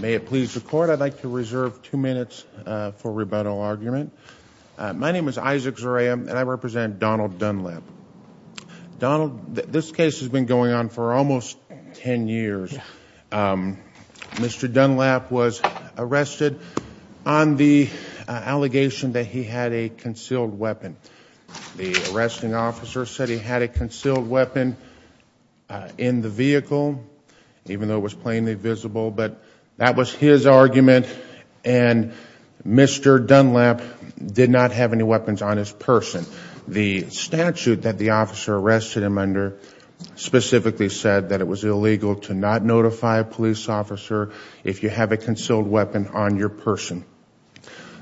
May it please the court, I'd like to reserve two minutes for rebuttal argument. My name is Isaac Zarea and I represent Donald Dunlap. Donald, this case has been going on for almost ten years. Mr. Dunlap was arrested on the allegation that he had a concealed weapon. The arresting officer said he had a concealed weapon in the vehicle, even though it was plainly visible. But that was his argument and Mr. Dunlap did not have any weapons on his person. The statute that the officer arrested him under specifically said that it was illegal to not notify a police officer if you have a concealed weapon on your person.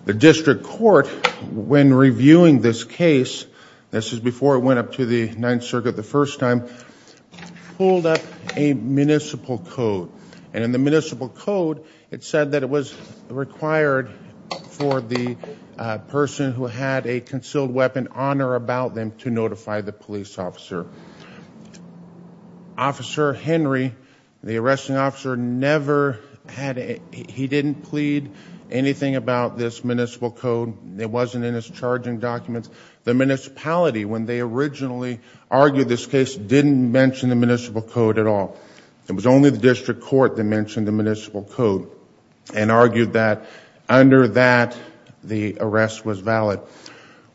The district court, when reviewing this case, this is before it went up to the Ninth Circuit the first time, pulled up a municipal code. And in the municipal code it said that it was required for the person who had a concealed weapon on or about them to notify the police officer. Officer Henry, the arresting officer, never had, he didn't plead anything about this municipal code. It wasn't in his charging documents. The municipality, when they originally argued this case, didn't mention the municipal code at all. It was only the district court that mentioned the municipal code and argued that under that the arrest was valid.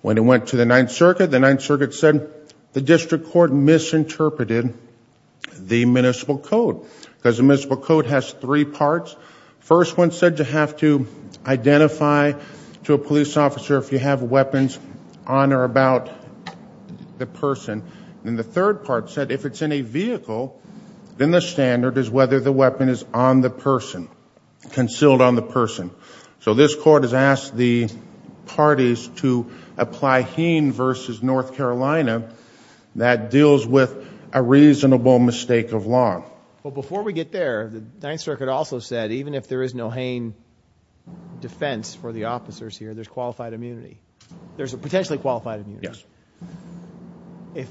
When it went to the Ninth Circuit, the Ninth Circuit said the district court misinterpreted the municipal code. Because the municipal code has three parts. First one said you have to identify to a police officer if you have weapons on or about the person. And the third part said if it's in a vehicle, then the standard is whether the weapon is on the person, concealed on the person. So this court has asked the parties to apply Heen v. North Carolina that deals with a reasonable mistake of law. But before we get there, the Ninth Circuit also said even if there is no Heen defense for the officers here, there's qualified immunity. There's potentially qualified immunity.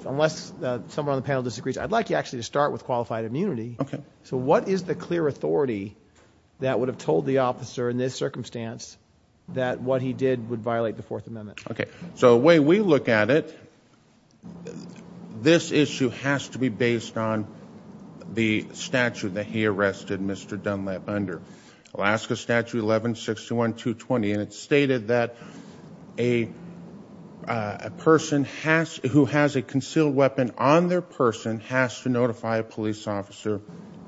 Unless someone on the panel disagrees, I'd like you actually to start with qualified immunity. So what is the clear authority that would have told the officer in this circumstance that what he did would violate the Fourth Amendment? Okay. So the way we look at it, this issue has to be based on the statute that he arrested Mr. Dunlap under. Alaska Statute 1161-220, and it stated that a person who has a concealed weapon on their person has to notify a police officer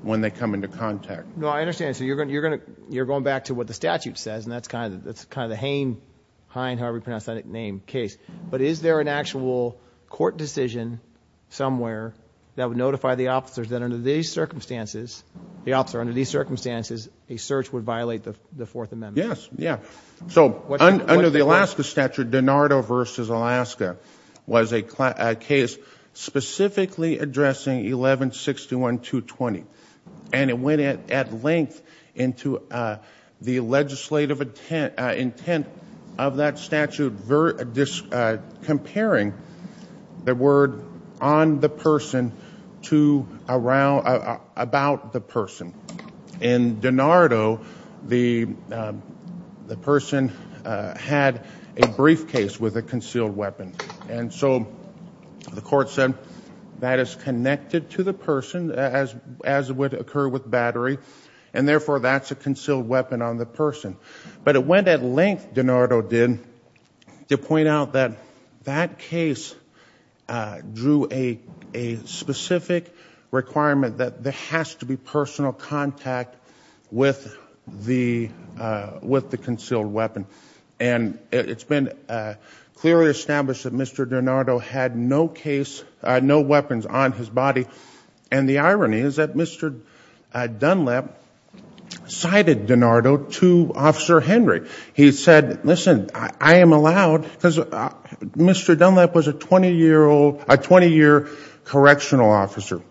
when they come into contact. No, I understand. So you're going back to what the statute says, and that's kind of the Hein, however you pronounce that name, case. But is there an actual court decision somewhere that would notify the officers that under these circumstances, the officer under these circumstances, a search would violate the Fourth Amendment? Yes, yeah. So under the Alaska Statute, DiNardo v. Alaska was a case specifically addressing 1161-220, and it went at length into the legislative intent of that statute comparing the word on the person to about the person. In DiNardo, the person had a briefcase with a concealed weapon, and so the court said that is connected to the person as would occur with battery, and therefore that's a concealed weapon on the person. But it went at length, DiNardo did, to point out that that case drew a specific requirement that there has to be personal contact with the concealed weapon. And it's been clearly established that Mr. DiNardo had no weapons on his body. And the irony is that Mr. Dunlap cited DiNardo to Officer Henry. He said, listen, I am allowed, because Mr. Dunlap was a 20-year correctional officer.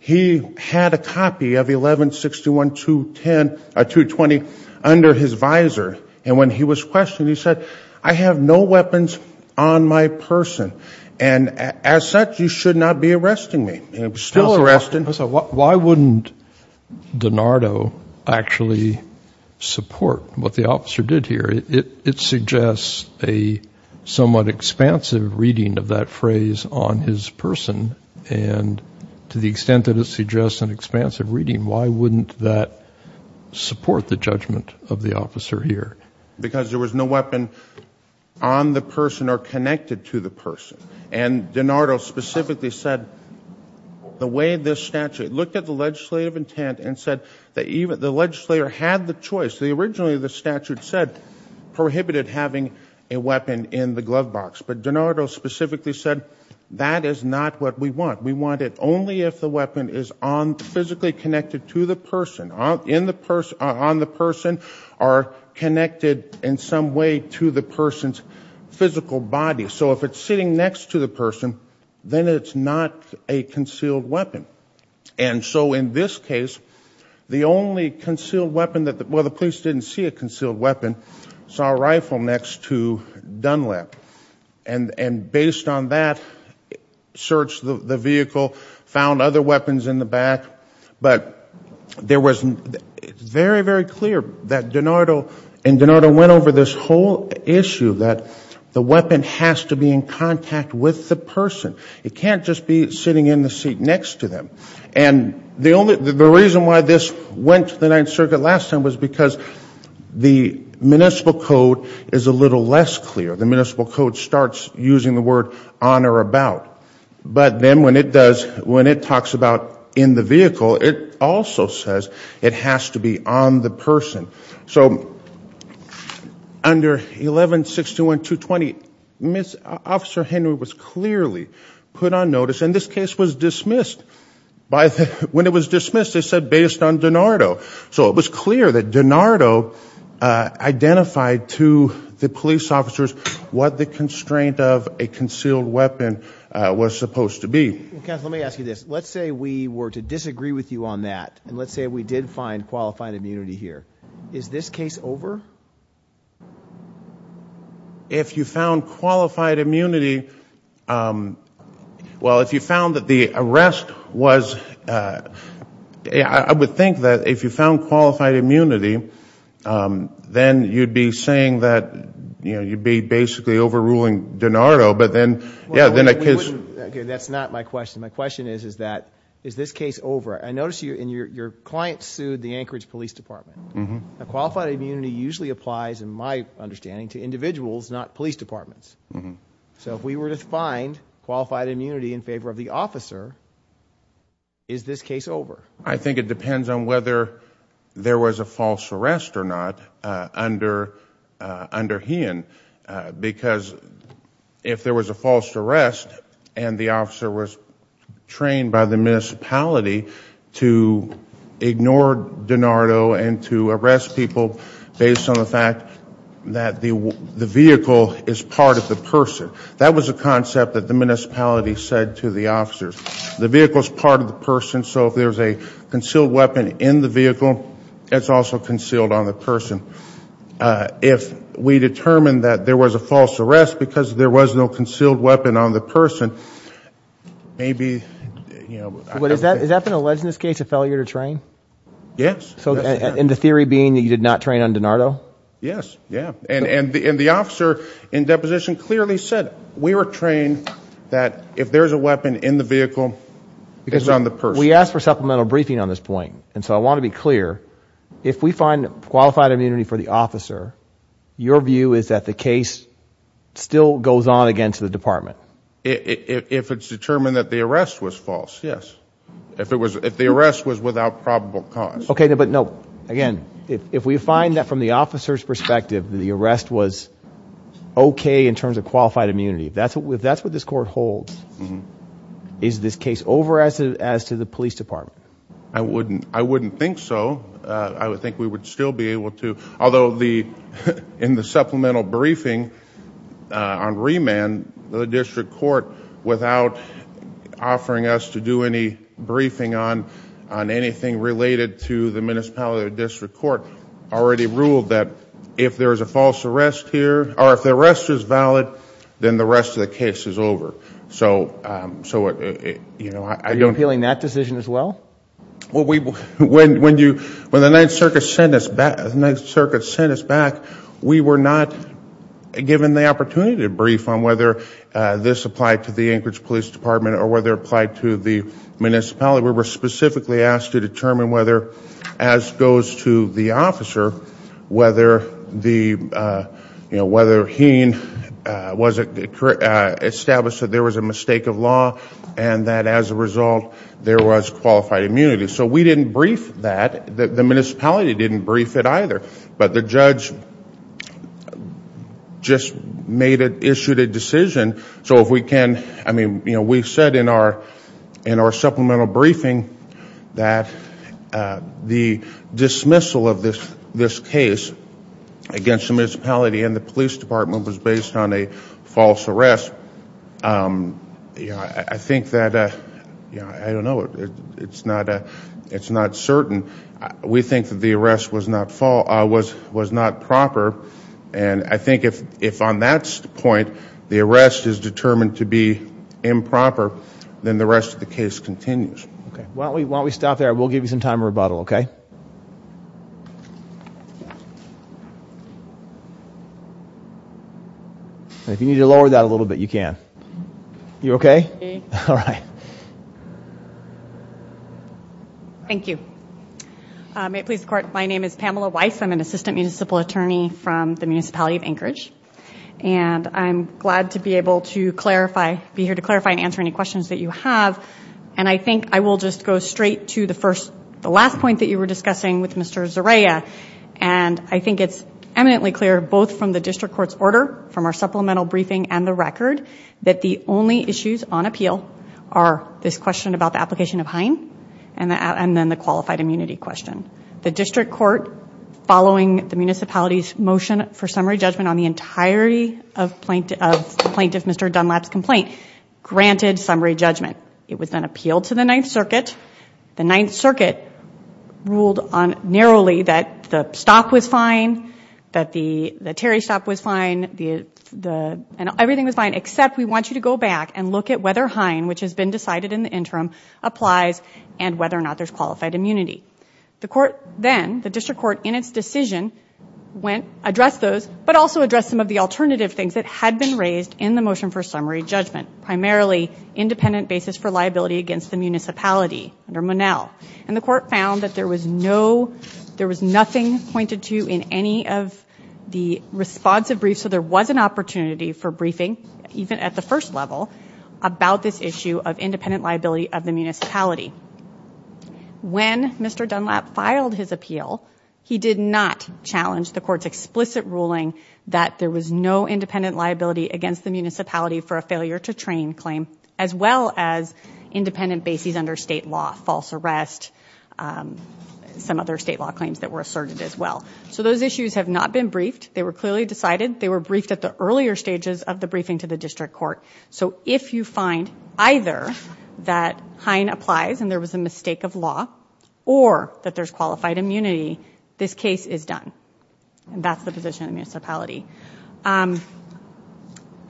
He had a copy of 1161-220 under his visor. And when he was questioned, he said, I have no weapons on my person. And as such, you should not be arresting me. Still arresting. Why wouldn't DiNardo actually support what the officer did here? It suggests a somewhat expansive reading of that phrase on his person. And to the extent that it suggests an expansive reading, why wouldn't that support the judgment of the officer here? Because there was no weapon on the person or connected to the person. And DiNardo specifically said the way this statute, looked at the legislative intent and said the legislator had the choice. Originally, the statute said prohibited having a weapon in the glove box. But DiNardo specifically said that is not what we want. We want it only if the weapon is physically connected to the person. On the person or connected in some way to the person's physical body. So if it's sitting next to the person, then it's not a concealed weapon. And so in this case, the only concealed weapon, well the police didn't see a concealed weapon, saw a rifle next to Dunlap. And based on that, searched the vehicle, found other weapons in the back. But there was very, very clear that DiNardo, and DiNardo went over this whole issue that the weapon has to be in contact with the person. It can't just be sitting in the seat next to them. And the reason why this went to the Ninth Circuit last time was because the municipal code is a little less clear. The municipal code starts using the word on or about. But then when it does, when it talks about in the vehicle, it also says it has to be on the person. So under 11-621-220, Officer Henry was clearly put on notice, and this case was dismissed. When it was dismissed, they said based on DiNardo. So it was clear that DiNardo identified to the police officers what the constraint of a concealed weapon was supposed to be. Counsel, let me ask you this. Let's say we were to disagree with you on that. And let's say we did find qualified immunity here. Is this case over? If you found qualified immunity, well, if you found that the arrest was, I would think that if you found qualified immunity, then you'd be saying that you'd be basically overruling DiNardo. But then, yeah, then I guess. That's not my question. My question is, is that, is this case over? I notice you and your client sued the Anchorage Police Department. Qualified immunity usually applies, in my understanding, to individuals, not police departments. So if we were to find qualified immunity in favor of the officer, is this case over? I think it depends on whether there was a false arrest or not under Heehan. Because if there was a false arrest and the officer was trained by the municipality to ignore DiNardo and to arrest people based on the fact that the vehicle is part of the person, that was a concept that the municipality said to the officers. The vehicle is part of the person, so if there's a concealed weapon in the vehicle, it's also concealed on the person. If we determine that there was a false arrest because there was no concealed weapon on the person, maybe, you know, I don't think. Has that been alleged in this case, a failure to train? Yes. And the theory being that you did not train on DiNardo? Yes, yeah. And the officer in deposition clearly said, we were trained that if there's a weapon in the vehicle, it's on the person. We asked for supplemental briefing on this point, and so I want to be clear, if we find qualified immunity for the officer, your view is that the case still goes on against the department? If it's determined that the arrest was false, yes. If the arrest was without probable cause. Okay, but no, again, if we find that from the officer's perspective, the arrest was okay in terms of qualified immunity, if that's what this court holds, is this case over as to the police department? I wouldn't think so. I would think we would still be able to, although in the supplemental briefing on remand, the district court, without offering us to do any briefing on anything related to the municipality or district court, already ruled that if there is a false arrest here, or if the arrest is valid, then the rest of the case is over. Are you appealing that decision as well? When the Ninth Circuit sent us back, we were not given the opportunity to brief on whether this applied to the Anchorage Police Department or whether it applied to the municipality. We were specifically asked to determine whether, as goes to the officer, whether Heen established that there was a mistake of law and that as a result there was qualified immunity. So we didn't brief that. The municipality didn't brief it either, but the judge just issued a decision. We said in our supplemental briefing that the dismissal of this case against the municipality and the police department was based on a false arrest. I think that, I don't know, it's not certain. We think that the arrest was not proper. I think if on that point the arrest is determined to be improper, then the rest of the case continues. Why don't we stop there? We'll give you some time to rebuttal, okay? If you need to lower that a little bit, you can. You okay? Okay. Thank you. May it please the Court, my name is Pamela Weiss. I'm an assistant municipal attorney from the municipality of Anchorage. I'm glad to be able to be here to clarify and answer any questions that you have. I think I will just go straight to the last point that you were discussing with Mr. Zeraya. I think it's eminently clear both from the district court's order, from our supplemental briefing and the record, that the only issues on appeal are this question about the application of HINE and then the qualified immunity question. The district court, following the municipality's motion for summary judgment on the entirety of the plaintiff, Mr. Dunlap's complaint, granted summary judgment. It was then appealed to the Ninth Circuit. The Ninth Circuit ruled narrowly that the stock was fine, that the Terry stock was fine, and everything was fine except we want you to go back and look at whether HINE, which has been decided in the interim, applies and whether or not there's qualified immunity. The court then, the district court, in its decision addressed those, but also addressed some of the alternative things that had been raised in the motion for summary judgment, primarily independent basis for liability against the municipality under Monell. And the court found that there was no, there was nothing pointed to in any of the responsive briefs, so there was an opportunity for briefing, even at the first level, about this issue of independent liability of the municipality. When Mr. Dunlap filed his appeal, he did not challenge the court's explicit ruling that there was no independent liability against the municipality for a failure to train claim, as well as independent basis under state law, false arrest, some other state law claims that were asserted as well. So those issues have not been briefed. They were clearly decided. They were briefed at the earlier stages of the briefing to the district court. So if you find either that HINE applies and there was a mistake of law, or that there's qualified immunity, this case is done, and that's the position of the municipality.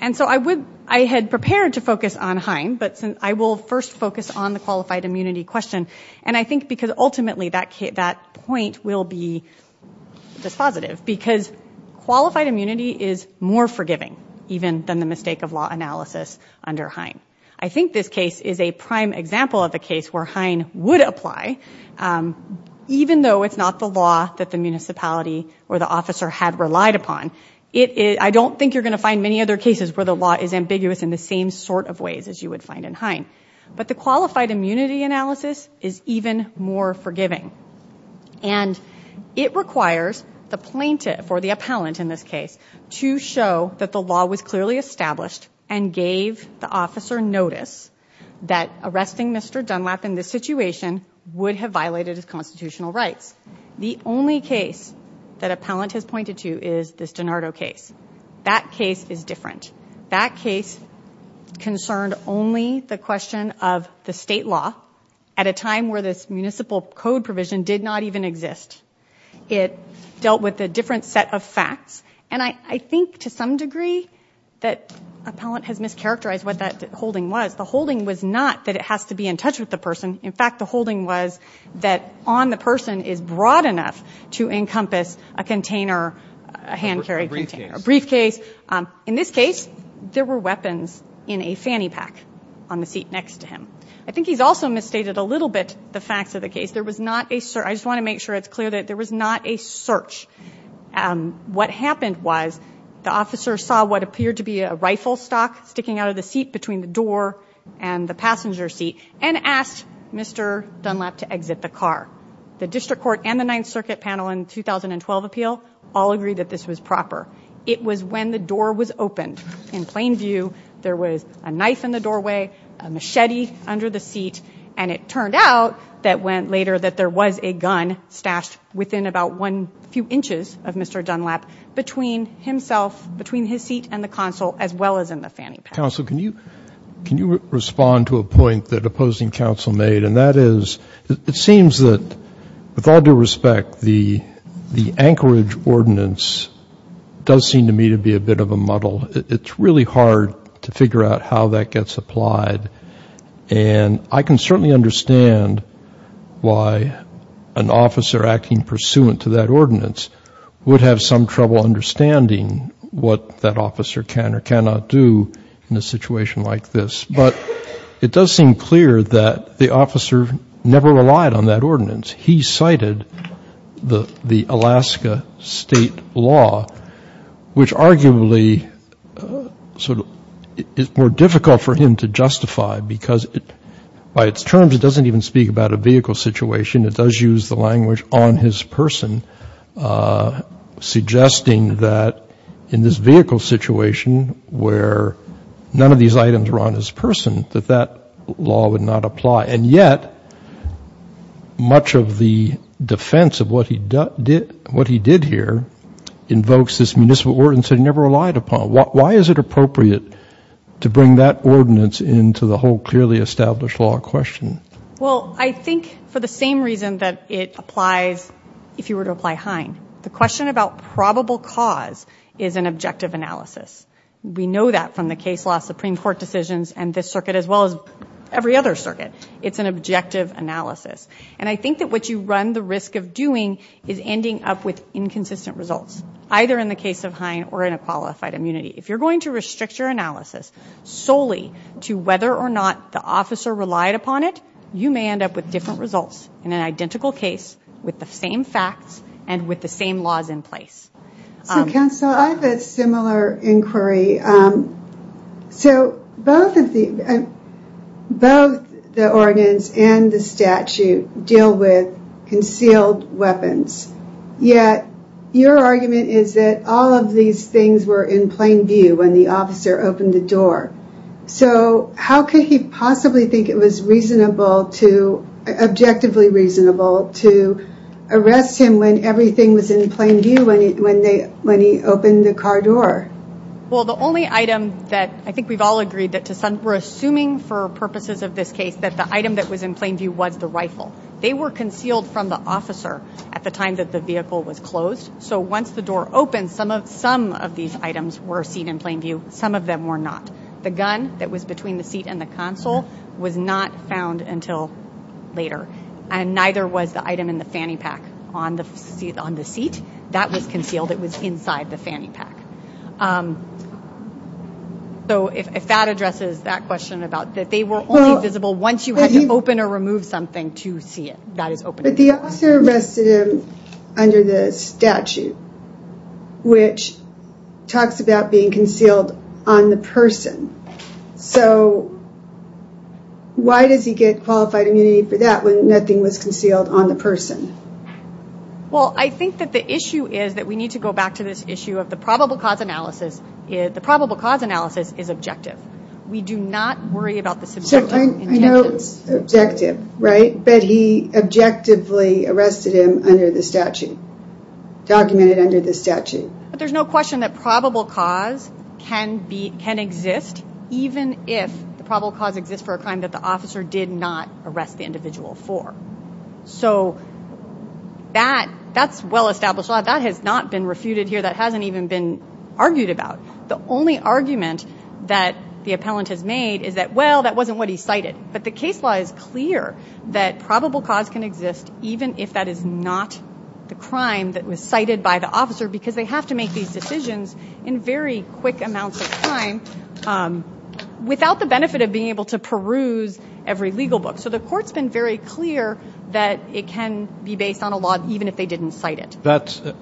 And so I had prepared to focus on HINE, but I will first focus on the qualified immunity question, and I think because ultimately that point will be dispositive, because qualified immunity is more forgiving, even than the mistake of law analysis under HINE. I think this case is a prime example of a case where HINE would apply, even though it's not the law that the municipality or the officer had relied upon. I don't think you're going to find many other cases where the law is ambiguous in the same sort of ways as you would find in HINE. But the qualified immunity analysis is even more forgiving, and it requires the plaintiff or the appellant in this case to show that the law was clearly established and gave the officer notice that arresting Mr. Dunlap in this situation would have violated his constitutional rights. The only case that appellant has pointed to is this DiNardo case. That case is different. That case concerned only the question of the state law at a time where this municipal code provision did not even exist. It dealt with a different set of facts, and I think to some degree that appellant has mischaracterized what that holding was. The holding was not that it has to be in touch with the person. In fact, the holding was that on the person is broad enough to encompass a container, a hand-carried container, a briefcase. In this case, there were weapons in a fanny pack on the seat next to him. I think he's also misstated a little bit the facts of the case. There was not a search. I just want to make sure it's clear that there was not a search. What happened was the officer saw what appeared to be a rifle stock sticking out of the seat between the door and the passenger seat and asked Mr. Dunlap to exit the car. The district court and the Ninth Circuit panel in the 2012 appeal all agreed that this was proper. It was when the door was opened. In plain view, there was a knife in the doorway, a machete under the seat, and it turned out later that there was a gun stashed within about a few inches of Mr. Dunlap between himself, between his seat and the counsel, as well as in the fanny pack. Counsel, can you respond to a point that opposing counsel made? And that is it seems that, with all due respect, the Anchorage ordinance does seem to me to be a bit of a muddle. It's really hard to figure out how that gets applied. And I can certainly understand why an officer acting pursuant to that ordinance would have some trouble understanding what that officer can or cannot do in a situation like this. But it does seem clear that the officer never relied on that ordinance. He cited the Alaska state law, which arguably sort of is more difficult for him to justify, because by its terms it doesn't even speak about a vehicle situation. It does use the language on his person, suggesting that in this vehicle situation, where none of these items were on his person, that that law would not apply. And yet, much of the defense of what he did here invokes this municipal ordinance that he never relied upon. Why is it appropriate to bring that ordinance into the whole clearly established law question? Well, I think for the same reason that it applies if you were to apply Hine. The question about probable cause is an objective analysis. We know that from the case law, Supreme Court decisions, and this circuit as well as every other circuit. It's an objective analysis. And I think that what you run the risk of doing is ending up with inconsistent results, either in the case of Hine or in a qualified immunity. If you're going to restrict your analysis solely to whether or not the officer relied upon it, you may end up with different results in an identical case with the same facts and with the same laws in place. So, counsel, I have a similar inquiry. So, both the ordinance and the statute deal with concealed weapons. Yet, your argument is that all of these things were in plain view when the officer opened the door. So, how could he possibly think it was reasonable to, objectively reasonable, to arrest him when everything was in plain view when he opened the car door? Well, the only item that I think we've all agreed that we're assuming for purposes of this case, that the item that was in plain view was the rifle. They were concealed from the officer at the time that the vehicle was closed. So, once the door opened, some of these items were seen in plain view. Some of them were not. The gun that was between the seat and the console was not found until later. And neither was the item in the fanny pack on the seat. That was concealed. It was inside the fanny pack. So, if that addresses that question about that they were only visible once you had to open or remove something to see it, that is open. But the officer arrested him under the statute, which talks about being concealed on the person. So, why does he get qualified immunity for that when nothing was concealed on the person? Well, I think that the issue is that we need to go back to this issue of the probable cause analysis. The probable cause analysis is objective. We do not worry about the subjective. I know it's objective, right? But he objectively arrested him under the statute, documented under the statute. But there's no question that probable cause can exist even if the probable cause exists for a crime that the officer did not arrest the individual for. So, that's well established. That has not been refuted here. That hasn't even been argued about. The only argument that the appellant has made is that, well, that wasn't what he cited. But the case law is clear that probable cause can exist even if that is not the crime that was cited by the officer because they have to make these decisions in very quick amounts of time without the benefit of being able to peruse every legal book. So, the court's been very clear that it can be based on a law even if they didn't cite it.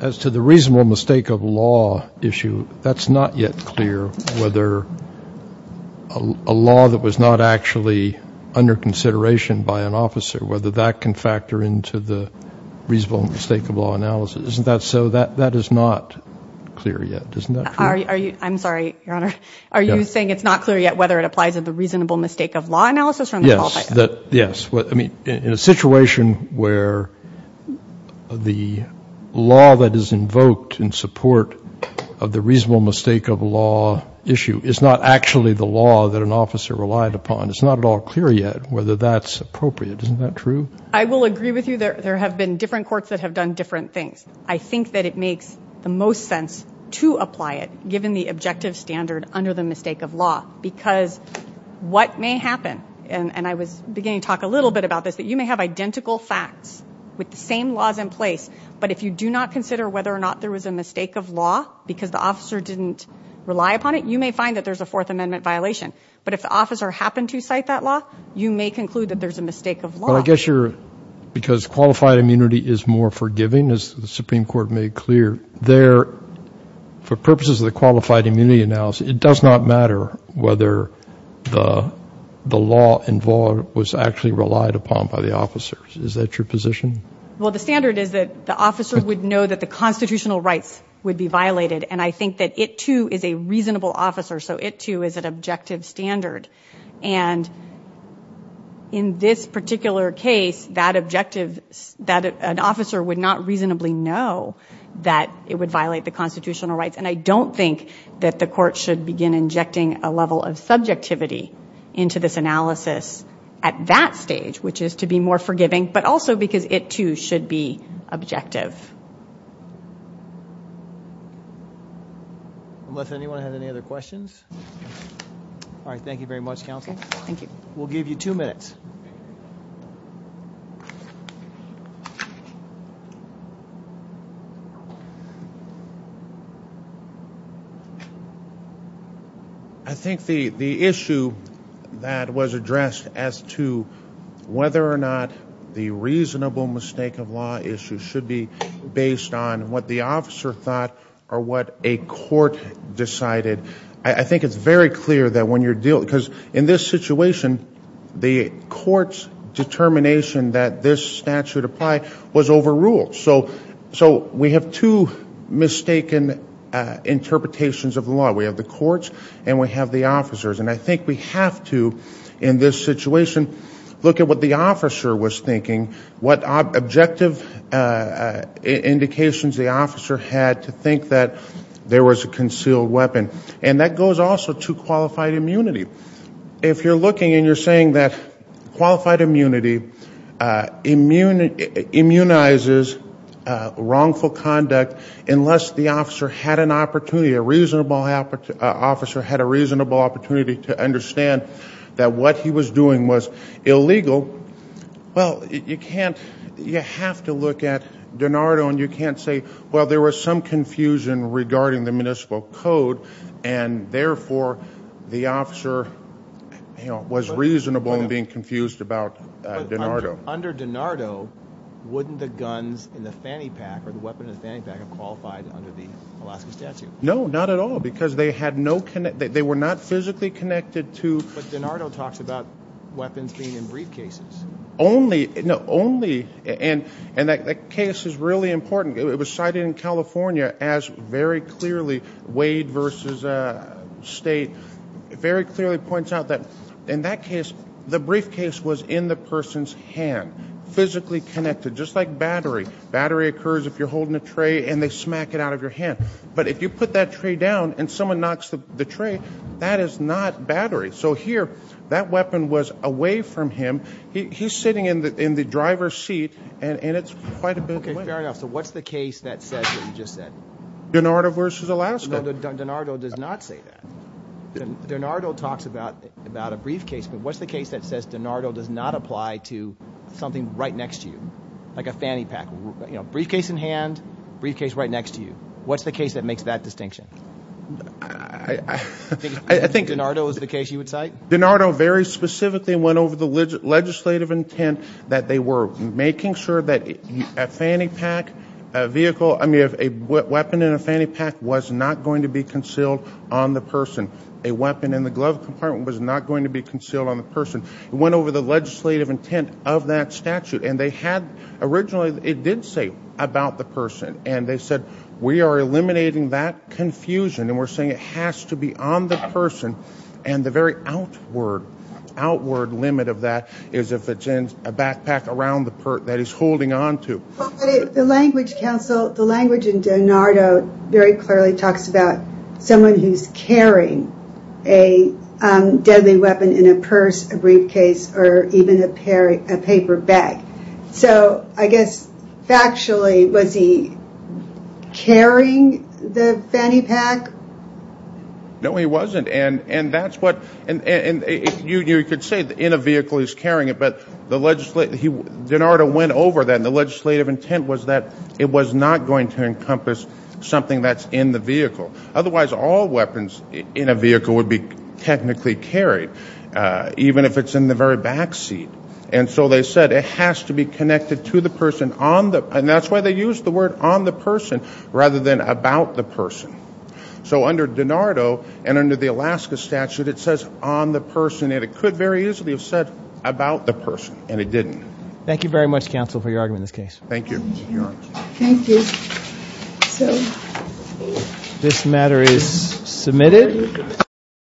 As to the reasonable mistake of law issue, that's not yet clear whether a law that was not actually under consideration by an officer, whether that can factor into the reasonable mistake of law analysis. Isn't that so? That is not clear yet. Isn't that true? I'm sorry, Your Honor. Are you saying it's not clear yet whether it applies to the reasonable mistake of law analysis? Yes. I mean, in a situation where the law that is invoked in support of the reasonable mistake of law issue is not actually the law that an officer relied upon, it's not at all clear yet whether that's appropriate. Isn't that true? I will agree with you. There have been different courts that have done different things. I think that it makes the most sense to apply it given the objective standard under the mistake of law because what may happen, and I was beginning to talk a little bit about this, that you may have identical facts with the same laws in place, but if you do not consider whether or not there was a mistake of law because the officer didn't rely upon it, you may find that there's a Fourth Amendment violation. But if the officer happened to cite that law, you may conclude that there's a mistake of law. Because qualified immunity is more forgiving, as the Supreme Court made clear, for purposes of the qualified immunity analysis, it does not matter whether the law involved was actually relied upon by the officers. Is that your position? Well, the standard is that the officers would know that the constitutional rights would be violated, and I think that it, too, is a reasonable officer, so it, too, is an objective standard. And in this particular case, that objective, that an officer would not reasonably know that it would violate the constitutional rights, and I don't think that the court should begin injecting a level of subjectivity into this analysis at that stage, which is to be more forgiving, but also because it, too, should be objective. Unless anyone has any other questions? All right, thank you very much, Counsel. Thank you. We'll give you two minutes. I think the issue that was addressed as to whether or not the reasonable mistake of law issue should be based on what the officer thought or what a court decided, I think it's very clear that when you're dealing, because in this situation, the court's determination that the officer is guilty of a crime, that this statute apply, was overruled. So we have two mistaken interpretations of the law. We have the courts, and we have the officers, and I think we have to, in this situation, look at what the officer was thinking, what objective indications the officer had to think that there was a concealed weapon. And that goes also to qualified immunity. If you're looking and you're saying that qualified immunity immunizes wrongful conduct unless the officer had an opportunity, a reasonable officer had a reasonable opportunity to understand that what he was doing was illegal, well, you can't, you have to look at Denardo, and you can't say, well, there was some confusion regarding the municipal code, and therefore, the officer was reasonable in being confused about Denardo. Under Denardo, wouldn't the guns in the fanny pack or the weapon in the fanny pack have qualified under the Alaska statute? No, not at all, because they had no, they were not physically connected to- But Denardo talks about weapons being in briefcases. Only, no, only, and that case is really important. It was cited in California as very clearly, Wade v. State, very clearly points out that in that case, the briefcase was in the person's hand, physically connected, just like battery. Battery occurs if you're holding a tray and they smack it out of your hand. But if you put that tray down and someone knocks the tray, that is not battery. So here, that weapon was away from him. He's sitting in the driver's seat, and it's quite a bit away. Okay, fair enough. So what's the case that says what you just said? Denardo v. Alaska. No, Denardo does not say that. Denardo talks about a briefcase, but what's the case that says Denardo does not apply to something right next to you, like a fanny pack? Briefcase in hand, briefcase right next to you. What's the case that makes that distinction? I think Denardo is the case you would cite? Denardo very specifically went over the legislative intent that they were making sure that a weapon in a fanny pack was not going to be concealed on the person. A weapon in the glove compartment was not going to be concealed on the person. It went over the legislative intent of that statute. Originally, it did say about the person, and they said, we are eliminating that confusion, and we're saying it has to be on the person. And the very outward limit of that is if it's in a backpack around the person that he's holding on to. The language in Denardo very clearly talks about someone who's carrying a deadly weapon in a purse, a briefcase, or even a paper bag. So I guess factually, was he carrying the fanny pack? No, he wasn't. And you could say in a vehicle he's carrying it, but Denardo went over that, and the legislative intent was that it was not going to encompass something that's in the vehicle. Otherwise, all weapons in a vehicle would be technically carried, even if it's in the very back seat. And so they said it has to be connected to the person on the, and that's why they used the word on the person rather than about the person. So under Denardo and under the Alaska statute, it says on the person, and it could very easily have said about the person, and it didn't. Thank you very much, counsel, for your argument in this case. Thank you. Thank you. So this matter is submitted.